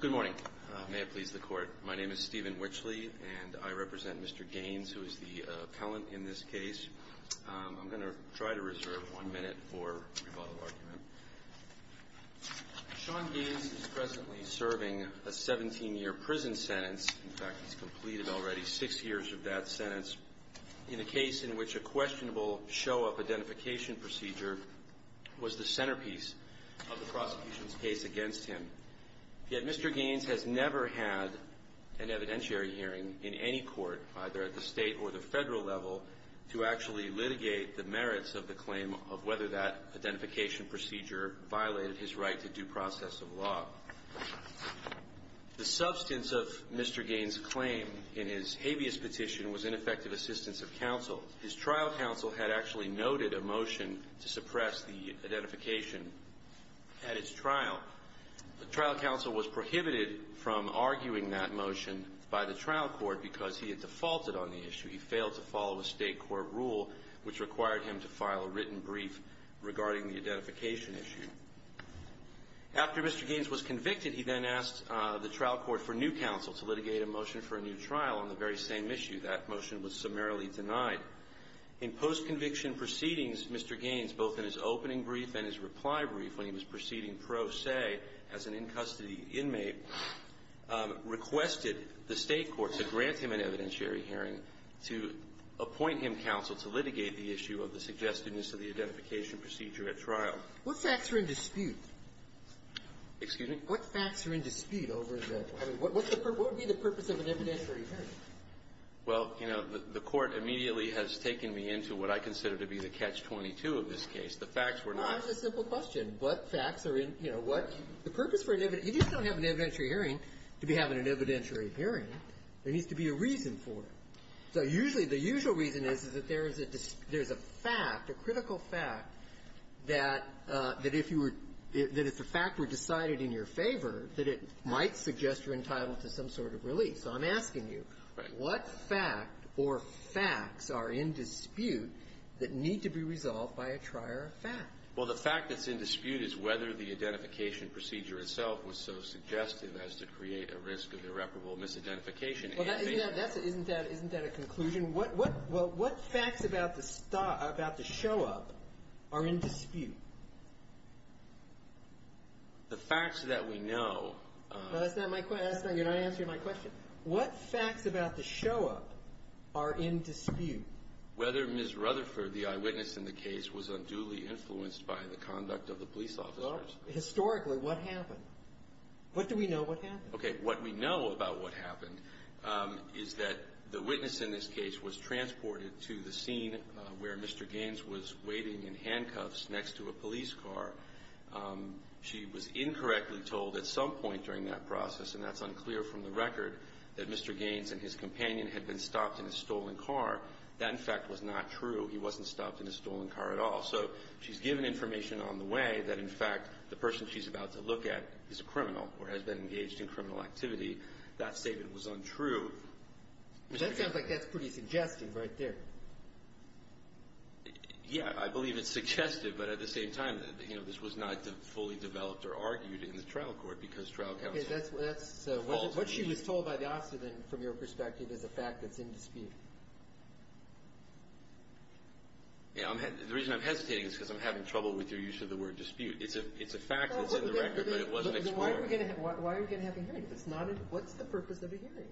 Good morning. May it please the Court. My name is Stephen Witchley, and I represent Mr. Gaines, who is the appellant in this case. I'm going to try to reserve one minute for rebuttal argument. Sean Gaines is presently serving a 17-year prison sentence. In fact, he's completed already six years of that sentence in a case in which a questionable show-up identification procedure was the centerpiece of the prosecution's case against him. Yet Mr. Gaines has never had an evidentiary hearing in any court, either at the state or the federal level, to actually litigate the merits of the claim of whether that identification procedure violated his right to due process of law. The substance of Mr. Gaines' claim in his habeas petition was ineffective assistance of counsel. His trial counsel had actually noted a motion to suppress the identification at his trial. The trial counsel was prohibited from arguing that motion by the trial court because he had defaulted on the issue. He failed to follow a state court rule which required him to file a written brief regarding the identification issue. After Mr. Gaines was convicted, he then asked the trial court for new counsel to litigate a motion for a new trial on the very same issue. That motion was summarily denied. In post-conviction proceedings, Mr. Gaines, both in his opening brief and his reply brief when he was proceeding pro se as an in-custody inmate, requested the state court to grant him an evidentiary hearing to appoint him counsel to litigate the issue of the suggestiveness of the identification procedure at trial. What facts are in dispute? Excuse me? What facts are in dispute over the ---- I mean, what would be the purpose of an evidentiary hearing? Well, you know, the Court immediately has taken me into what I consider to be the catch-22 of this case. The facts were not ---- No, it's a simple question. What facts are in, you know, what ---- the purpose for an evidentiary ---- you just don't have an evidentiary hearing to be having an evidentiary hearing. There needs to be a reason for it. So usually the usual reason is, is that there is a fact, a critical fact, that if you were ---- that if the fact were decided in your favor, that it might suggest you're entitled to some sort of relief. So I'm asking you, what fact or facts are in dispute that need to be resolved by a trier of fact? Well, the fact that's in dispute is whether the identification procedure itself was so suggestive as to create a risk of irreparable misidentification. Well, that's a ---- isn't that a conclusion? What facts about the show-up are in dispute? The facts that we know ---- No, that's not my question. That's not ---- you're not answering my question. What facts about the show-up are in dispute? Whether Ms. Rutherford, the eyewitness in the case, was unduly influenced by the conduct of the police officers. Historically, what happened? What do we know what happened? Okay. What we know about what happened is that the witness in this case was transported to the scene where Mr. Gaines was waiting in handcuffs next to a police car. She was incorrectly told at some point during that process, and that's unclear from the record, that Mr. Gaines and his companion had been stopped in a stolen car. That, in fact, was not true. He wasn't stopped in a stolen car at all. So she's given information on the way that, in fact, the person she's about to look at is a criminal or has been engaged in criminal activity. That statement was untrue. That sounds like that's pretty suggestive right there. Yeah. I believe it's suggestive, but at the same time, you know, this was not fully developed or argued in the trial court because trial counsel falls on that. Okay. So what she was told by the officer, then, from your perspective, is a fact that's in dispute. Yeah. The reason I'm hesitating is because I'm having trouble with your use of the word dispute. It's a fact that's in the record, but it wasn't explored. Why are we going to have a hearing if it's not a ---- what's the purpose of a hearing?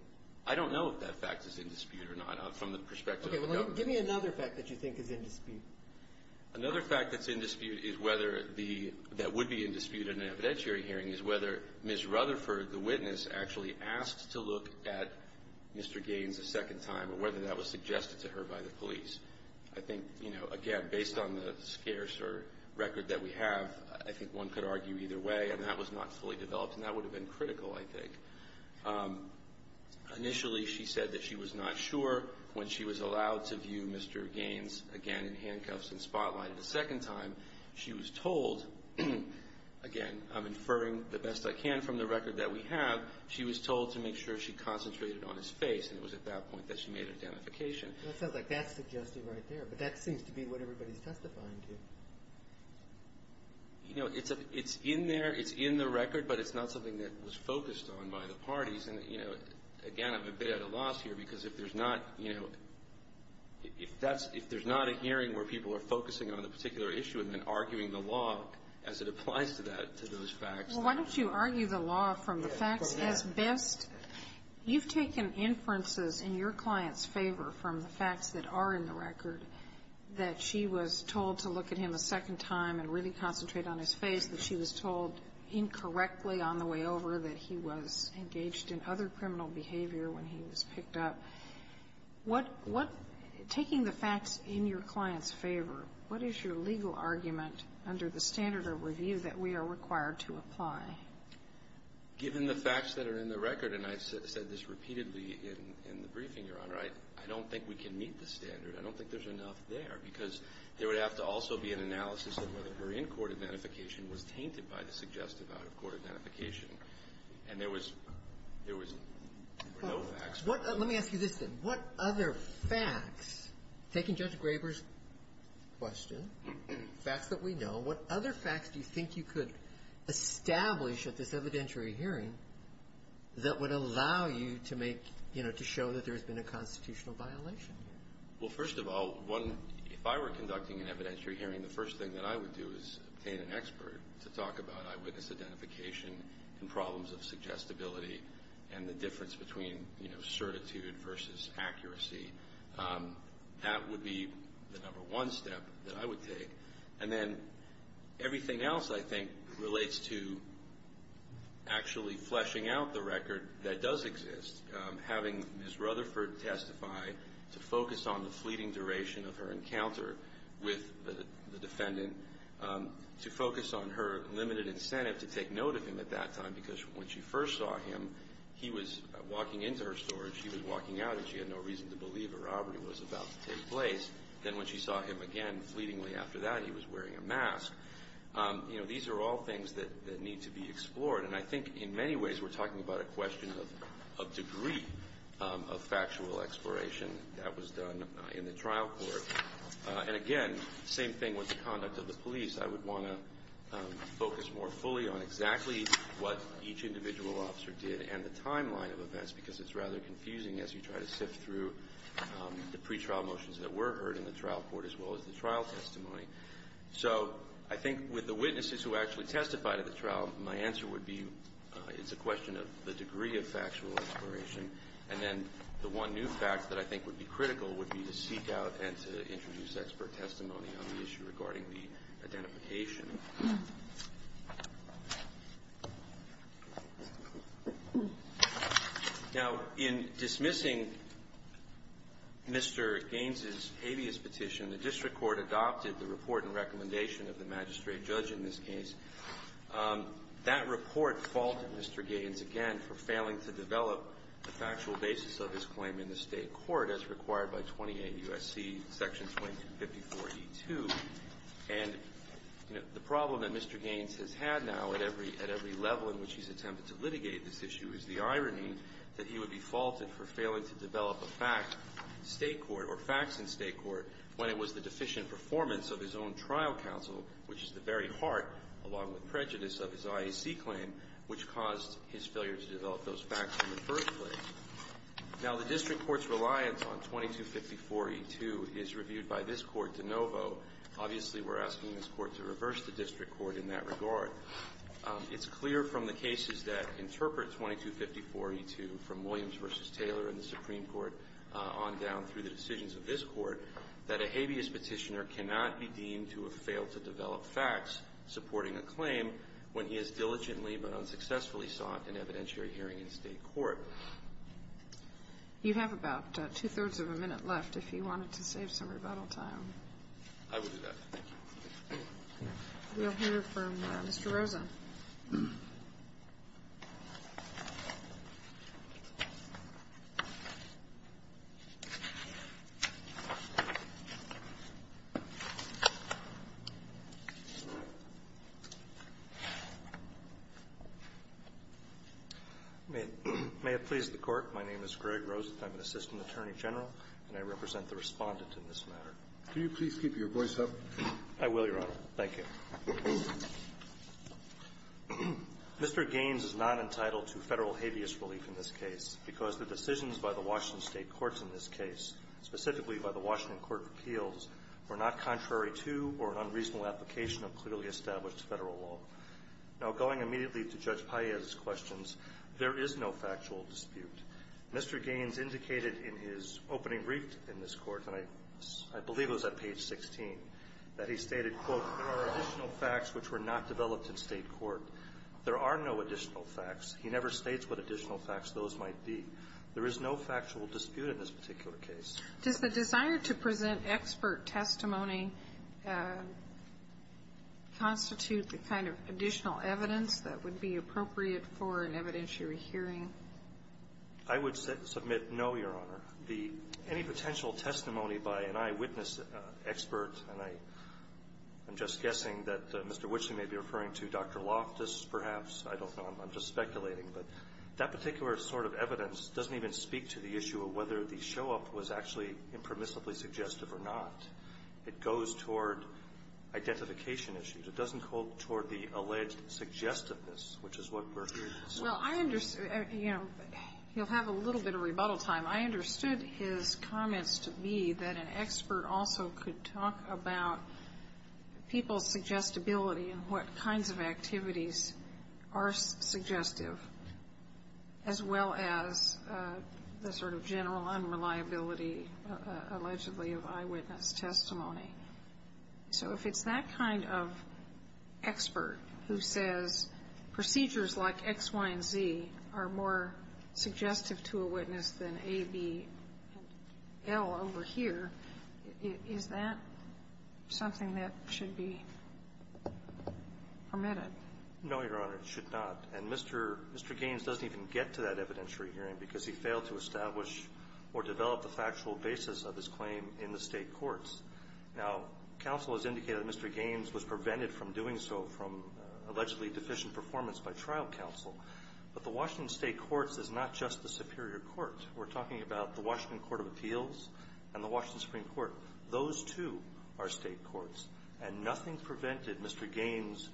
I don't know if that fact is in dispute or not from the perspective of the government. Okay. Give me another fact that you think is in dispute. Another fact that's in dispute is whether the ---- that would be in dispute in an evidentiary hearing is whether Ms. Rutherford, the witness, actually asked to look at Mr. Gaines a second time or whether that was suggested to her by the police. I think, you know, again, based on the scarce or record that we have, I think one could argue either way, and that was not fully developed, and that would have been critical, I think. Initially, she said that she was not sure when she was allowed to view Mr. Gaines again in handcuffs and spotlighted a second time. She was told, again, I'm inferring the best I can from the record that we have, she was told to make sure she concentrated on his face, and it was at that point that she made an identification. That sounds like that's suggested right there, but that seems to be what everybody's testifying to. You know, it's in there. It's in the record, but it's not something that was focused on by the parties. And, you know, again, I'm a bit at a loss here because if there's not, you know, if that's ---- if there's not a hearing where people are focusing on a particular issue and then arguing the law as it applies to that, to those facts ---- Well, why don't you argue the law from the facts as best ---- Go ahead. You've taken inferences in your client's favor from the facts that are in the record that she was told to look at him a second time and really concentrate on his face, that she was told incorrectly on the way over that he was engaged in other criminal behavior when he was picked up. What ---- what ---- taking the facts in your client's favor, what is your legal argument under the standard of review that we are required to apply? Given the facts that are in the record, and I've said this repeatedly in the briefing, Your Honor, I don't think we can meet the standard. I don't think there's enough there because there would have to also be an analysis of whether her in-court identification was tainted by the suggestive out-of-court identification. And there was no facts. Let me ask you this, then. What other facts, taking Judge Graber's question, facts that we know, what other facts do you think you could establish at this evidentiary hearing that would allow you to make ---- you know, to show that there's been a constitutional violation? Well, first of all, one, if I were conducting an evidentiary hearing, the first thing that I would do is obtain an expert to talk about eyewitness identification and problems of suggestibility and the difference between, you know, certitude versus accuracy. That would be the number one step that I would take. And then everything else, I think, relates to actually fleshing out the record that does exist, having Ms. Rutherford testify to focus on the fleeting duration of her incident, to focus on her limited incentive to take note of him at that time, because when she first saw him, he was walking into her storage, she was walking out, and she had no reason to believe a robbery was about to take place. Then when she saw him again, fleetingly after that, he was wearing a mask. You know, these are all things that need to be explored. And I think in many ways we're talking about a question of degree of factual exploration that was done in the trial court. And again, same thing with the conduct of the police. I would want to focus more fully on exactly what each individual officer did and the timeline of events, because it's rather confusing as you try to sift through the pretrial motions that were heard in the trial court as well as the trial testimony. So I think with the witnesses who actually testified at the trial, my answer would be it's a question of the degree of factual exploration. And then the one new fact that I think would be critical would be to seek out and to introduce expert testimony on the issue regarding the identification. Now, in dismissing Mr. Gaines's alias petition, the district court adopted the report and recommendation of the magistrate judge in this case. That report faulted Mr. Gaines again for failing to develop a factual basis of his claim in the state court as required by 28 U.S.C. Section 2254E2. And the problem that Mr. Gaines has had now at every level in which he's attempted to litigate this issue is the irony that he would be faulted for failing to develop a fact in state court or facts in state court when it was the deficient performance of his own trial counsel, which is the very heart, along with prejudice of his IAC claim, which caused his failure to develop those facts in the first place. Now, the district court's reliance on 2254E2 is reviewed by this Court de novo. Obviously, we're asking this Court to reverse the district court in that regard. It's clear from the cases that interpret 2254E2, from Williams v. Taylor in the Supreme Court on down through the decisions of this Court, that a habeas petitioner cannot be deemed to have failed to develop facts supporting a claim when he has diligently but unsuccessfully sought an evidentiary hearing in state court. You have about two-thirds of a minute left if you wanted to save some rebuttal time. I will do that. Thank you. We'll hear from Mr. Rosa. May it please the Court. My name is Greg Rosa. I'm an assistant attorney general, and I represent the respondent in this matter. Can you please keep your voice up? I will, Your Honor. Thank you. Mr. Gaines is not entitled to federal habeas relief in this case because the decisions by the Washington state courts in this case, specifically by the Washington Supreme Court of Appeals, were not contrary to or an unreasonable application of clearly established federal law. Now, going immediately to Judge Paez's questions, there is no factual dispute. Mr. Gaines indicated in his opening brief in this Court, and I believe it was at page 16, that he stated, quote, there are additional facts which were not developed in state court. There are no additional facts. He never states what additional facts those might be. There is no factual dispute in this particular case. Does the desire to present expert testimony constitute the kind of additional evidence that would be appropriate for an evidentiary hearing? I would submit no, Your Honor. Any potential testimony by an eyewitness expert, and I'm just guessing that Mr. Witching may be referring to Dr. Loftus, perhaps. I don't know. I'm just speculating. But that particular sort of evidence doesn't even speak to the issue of whether the show-up was actually impermissibly suggestive or not. It goes toward identification issues. It doesn't go toward the alleged suggestiveness, which is what Berkley is saying. Well, I understand. You know, you'll have a little bit of rebuttal time. I understood his comments to be that an expert also could talk about people's suggestibility and what kinds of activities are suggestive, as well as the sort of general unreliability, allegedly, of eyewitness testimony. So if it's that kind of expert who says procedures like X, Y, and Z are more suggestive to a witness than A, B, and L over here, is that something that should be permitted? No, Your Honor. It should not. And Mr. Gaines doesn't even get to that evidentiary hearing because he failed to establish or develop the factual basis of his claim in the State courts. Now, counsel has indicated that Mr. Gaines was prevented from doing so from allegedly deficient performance by trial counsel. But the Washington State courts is not just the Superior Court. We're talking about the Washington Court of Appeals and the Washington Supreme Court. Those two are State courts. And nothing prevented Mr. Gaines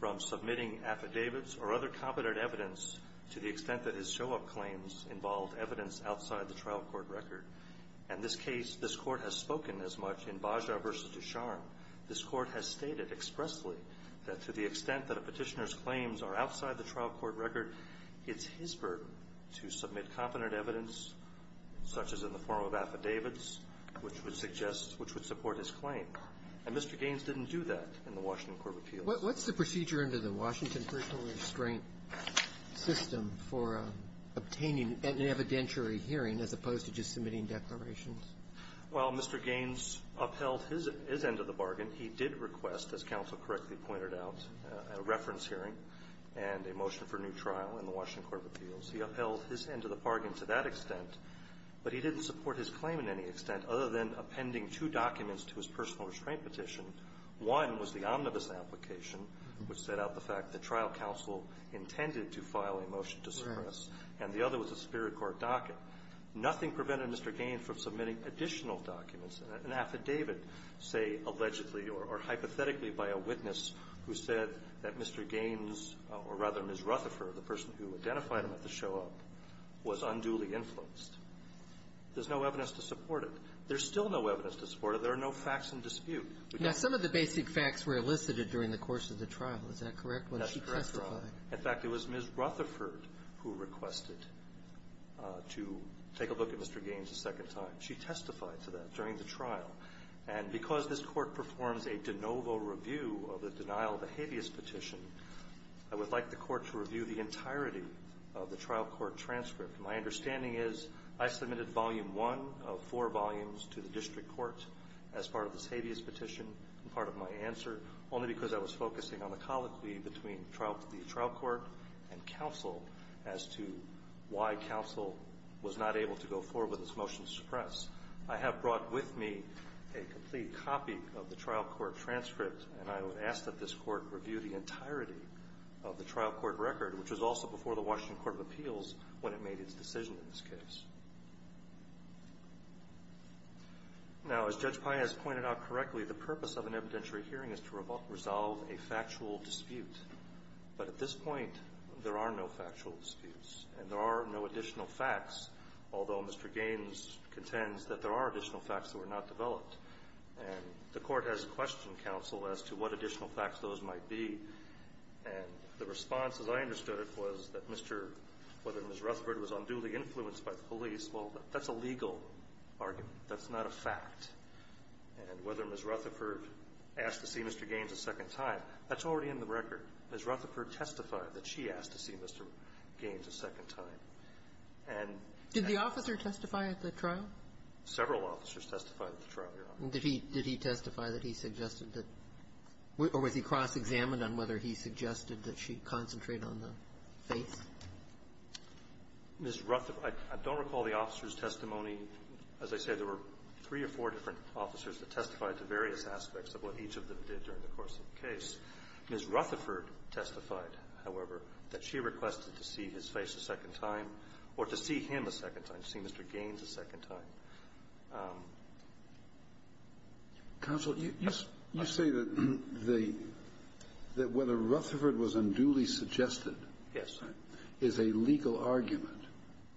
from submitting affidavits or other competent evidence to the extent that his show-up claims involved evidence outside the trial court record. In this case, this Court has spoken as much in Bajra v. Ducharme. This Court has stated expressly that to the extent that a Petitioner's claims are outside the trial court record, it's his burden to submit competent evidence, such as in the form of affidavits, which would suggest, which would support his claim. And Mr. Gaines didn't do that in the Washington Court of Appeals. What's the procedure under the Washington personal restraint system for obtaining an evidentiary hearing, as opposed to just submitting declarations? Well, Mr. Gaines upheld his end of the bargain. He did request, as counsel correctly pointed out, a reference hearing and a motion for a new trial in the Washington Court of Appeals. He upheld his end of the bargain to that extent, but he didn't support his claim in any extent other than appending two documents to his personal restraint petition. One was the omnibus application, which set out the fact that trial counsel intended to file a motion to suppress. Right. And the other was the Superior Court docket. Nothing prevented Mr. Gaines from submitting additional documents, an affidavit, say, allegedly or hypothetically by a witness who said that Mr. Gaines, or rather Ms. Rutherford, the person who identified him at the show-up, was unduly influenced. There's no evidence to support it. There's still no evidence to support it. There are no facts in dispute. Now, some of the basic facts were elicited during the course of the trial. Is that correct? That's correct. That's correct, Your Honor. In fact, it was Ms. Rutherford who requested to take a look at Mr. Gaines a second time. She testified to that during the trial. And because this Court performs a de novo review of the denial of the habeas petition, I would like the Court to review the entirety of the trial court transcript. My understanding is I submitted volume one of four volumes to the district court as part of this habeas petition and part of my answer, only because I was focusing on the colloquy between the trial court and counsel as to why counsel was not able to go forward with its motion to suppress. I have brought with me a complete copy of the trial court transcript, and I would ask that this Court review the entirety of the trial court record, which was also before the Washington Court of Appeals when it made its decision in this case. Now, as Judge Paez pointed out correctly, the purpose of an evidentiary hearing is to resolve a factual dispute. But at this point, there are no factual disputes, and there are no additional facts, although Mr. Gaines contends that there are additional facts that were not developed. And the Court has questioned counsel as to what additional facts those might be. And the response, as I understood it, was that Mr. – whether Ms. Rutherford was unduly influenced by the police, well, that's a legal argument. That's not a fact. And whether Ms. Rutherford asked to see Mr. Gaines a second time, that's already in the record. Ms. Rutherford testified that she asked to see Mr. Gaines a second time. And at the – Did the officer testify at the trial? Several officers testified at the trial, Your Honor. And did he – did he testify that he suggested that – or was he cross-examined on whether he suggested that she concentrate on the face? Ms. Rutherford – I don't recall the officer's testimony. As I said, there were three or four different officers that testified to various aspects of what each of them did during the course of the case. Ms. Rutherford testified, however, that she requested to see his face a second time or to see him a second time, to see Mr. Gaines a second time. Counsel, you – you say that the – that whether Rutherford was unduly suggested is a legal argument,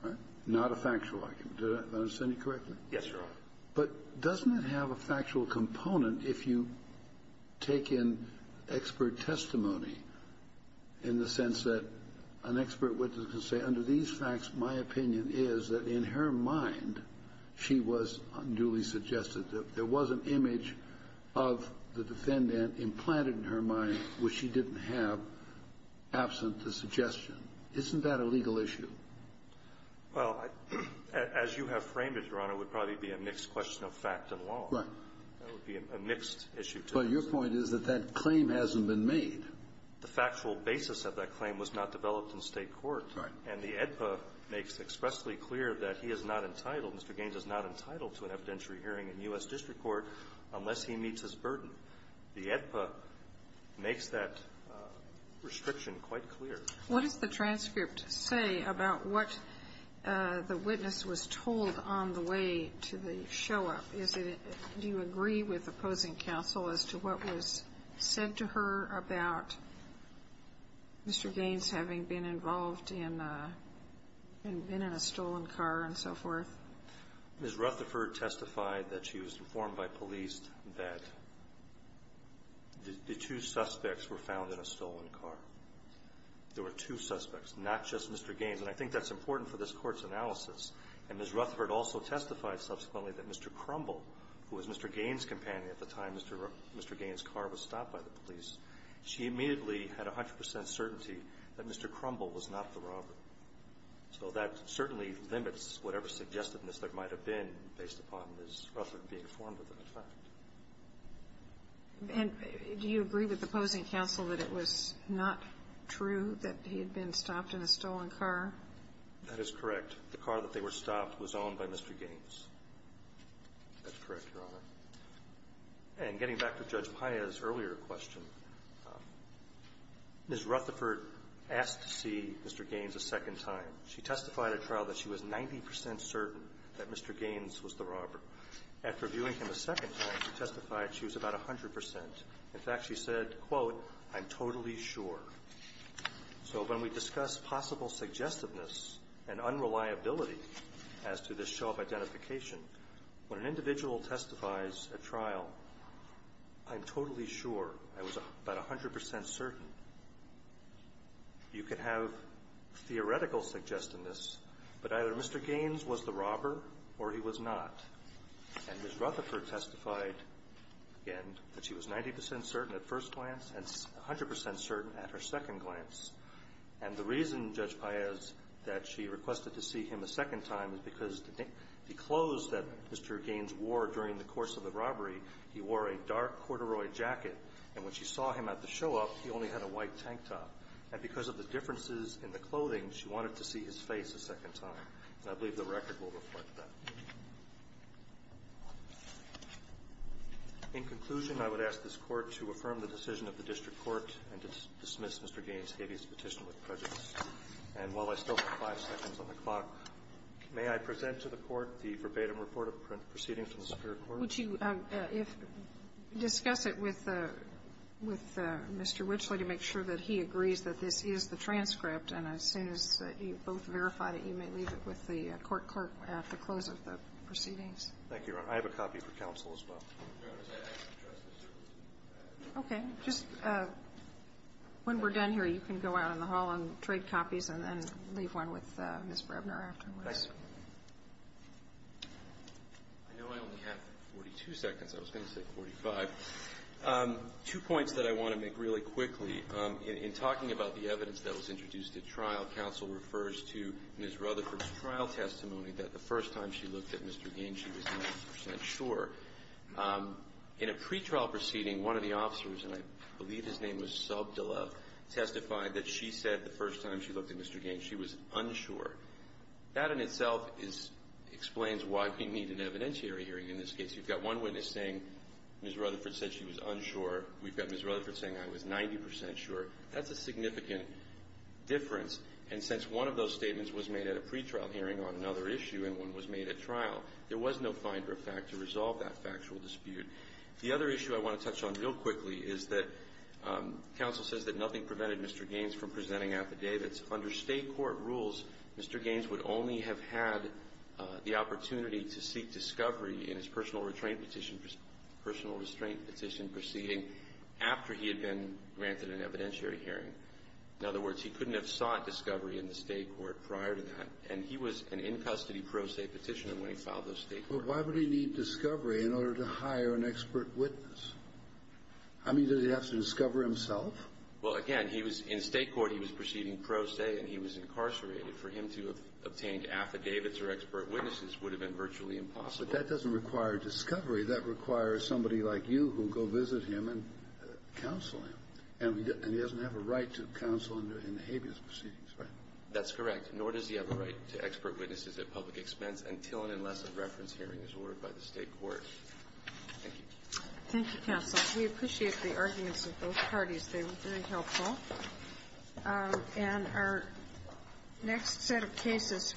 right, not a factual argument. Did I understand you correctly? Yes, Your Honor. But doesn't it have a factual component if you take in expert testimony in the sense that an expert witness can say, under these facts, my opinion is that in her mind she was unduly suggested, that there was an image of the defendant implanted in her mind which she didn't have absent the suggestion. Isn't that a legal issue? Well, as you have framed it, Your Honor, it would probably be a mixed question of fact and law. Right. That would be a mixed issue. But your point is that that claim hasn't been made. The factual basis of that claim was not developed in state court. Right. And the AEDPA makes expressly clear that he is not entitled, Mr. Gaines is not entitled to an evidentiary hearing in U.S. district court unless he meets his burden. The AEDPA makes that restriction quite clear. What does the transcript say about what the witness was told on the way to the show-up? Is it – do you agree with opposing counsel as to what was said to her about Mr. Gaines having been in a stolen car and so forth? Ms. Rutherford testified that she was informed by police that the two suspects were found in a stolen car. There were two suspects, not just Mr. Gaines. And I think that's important for this Court's analysis. And Ms. Rutherford also testified subsequently that Mr. Crumble, who was Mr. Gaines' companion at the time Mr. Gaines' car was stopped by the police, she immediately had 100 percent certainty that Mr. Crumble was not the robber. So that certainly limits whatever suggestiveness there might have been based upon Ms. Rutherford being informed of the fact. And do you agree with opposing counsel that it was not true that he had been stopped in a stolen car? That is correct. The car that they were stopped was owned by Mr. Gaines. That's correct, Your Honor. And getting back to Judge Paez's earlier question, Ms. Rutherford asked to see Mr. Gaines a second time. She testified at trial that she was 90 percent certain that Mr. Gaines was the robber. After viewing him a second time, she testified she was about 100 percent. In fact, she said, quote, I'm totally sure. So when we discuss possible suggestiveness and unreliability as to this show of eyes at trial, I'm totally sure. I was about 100 percent certain. You could have theoretical suggestiveness, but either Mr. Gaines was the robber or he was not. And Ms. Rutherford testified, again, that she was 90 percent certain at first glance and 100 percent certain at her second glance. And the reason, Judge Paez, that she requested to see him a second time is because she disclosed that Mr. Gaines wore, during the course of the robbery, he wore a dark corduroy jacket. And when she saw him at the show up, he only had a white tank top. And because of the differences in the clothing, she wanted to see his face a second time. And I believe the record will reflect that. In conclusion, I would ask this Court to affirm the decision of the District Court and to dismiss Mr. Gaines' habeas petition with prejudice. And while I still have five seconds on the clock, may I present to the Court the verbatim report of proceedings from the Superior Court? Would you discuss it with Mr. Witchley to make sure that he agrees that this is the transcript? And as soon as you've both verified it, you may leave it with the court clerk at the close of the proceedings. Thank you, Your Honor. I have a copy for counsel as well. Okay. Just when we're done here, you can go out in the hall and trade copies and then leave one with Ms. Brebner afterwards. I know I only have 42 seconds. I was going to say 45. Two points that I want to make really quickly. In talking about the evidence that was introduced at trial, counsel refers to Ms. Rutherford's trial testimony that the first time she looked at Mr. Gaines, she was 90 percent sure. In a pretrial proceeding, one of the officers, and I believe his name was Subdula, testified that she said the first time she looked at Mr. Gaines, she was unsure. That in itself explains why we need an evidentiary hearing in this case. You've got one witness saying Ms. Rutherford said she was unsure. We've got Ms. Rutherford saying I was 90 percent sure. That's a significant difference. And since one of those statements was made at a pretrial hearing on another issue and one was made at trial, there was no finder of fact to resolve that factual dispute. The other issue I want to touch on real quickly is that counsel says that nothing prevented Mr. Gaines from presenting affidavits. Under state court rules, Mr. Gaines would only have had the opportunity to seek discovery in his personal restraint petition proceeding after he had been granted an evidentiary hearing. In other words, he couldn't have sought discovery in the state court prior to that. And he was an in-custody pro se petitioner when he filed those state courts. But why would he need discovery in order to hire an expert witness? I mean, did he have to discover himself? Well, again, in state court he was proceeding pro se and he was incarcerated. For him to have obtained affidavits or expert witnesses would have been virtually impossible. But that doesn't require discovery. That requires somebody like you who will go visit him and counsel him. And he doesn't have a right to counsel in the habeas proceedings, right? That's correct. Nor does he have a right to expert witnesses at public expense until and unless a reference hearing is ordered by the state court. Thank you. Thank you, counsel. We appreciate the arguments of both parties. They were very helpful. And our next set of cases.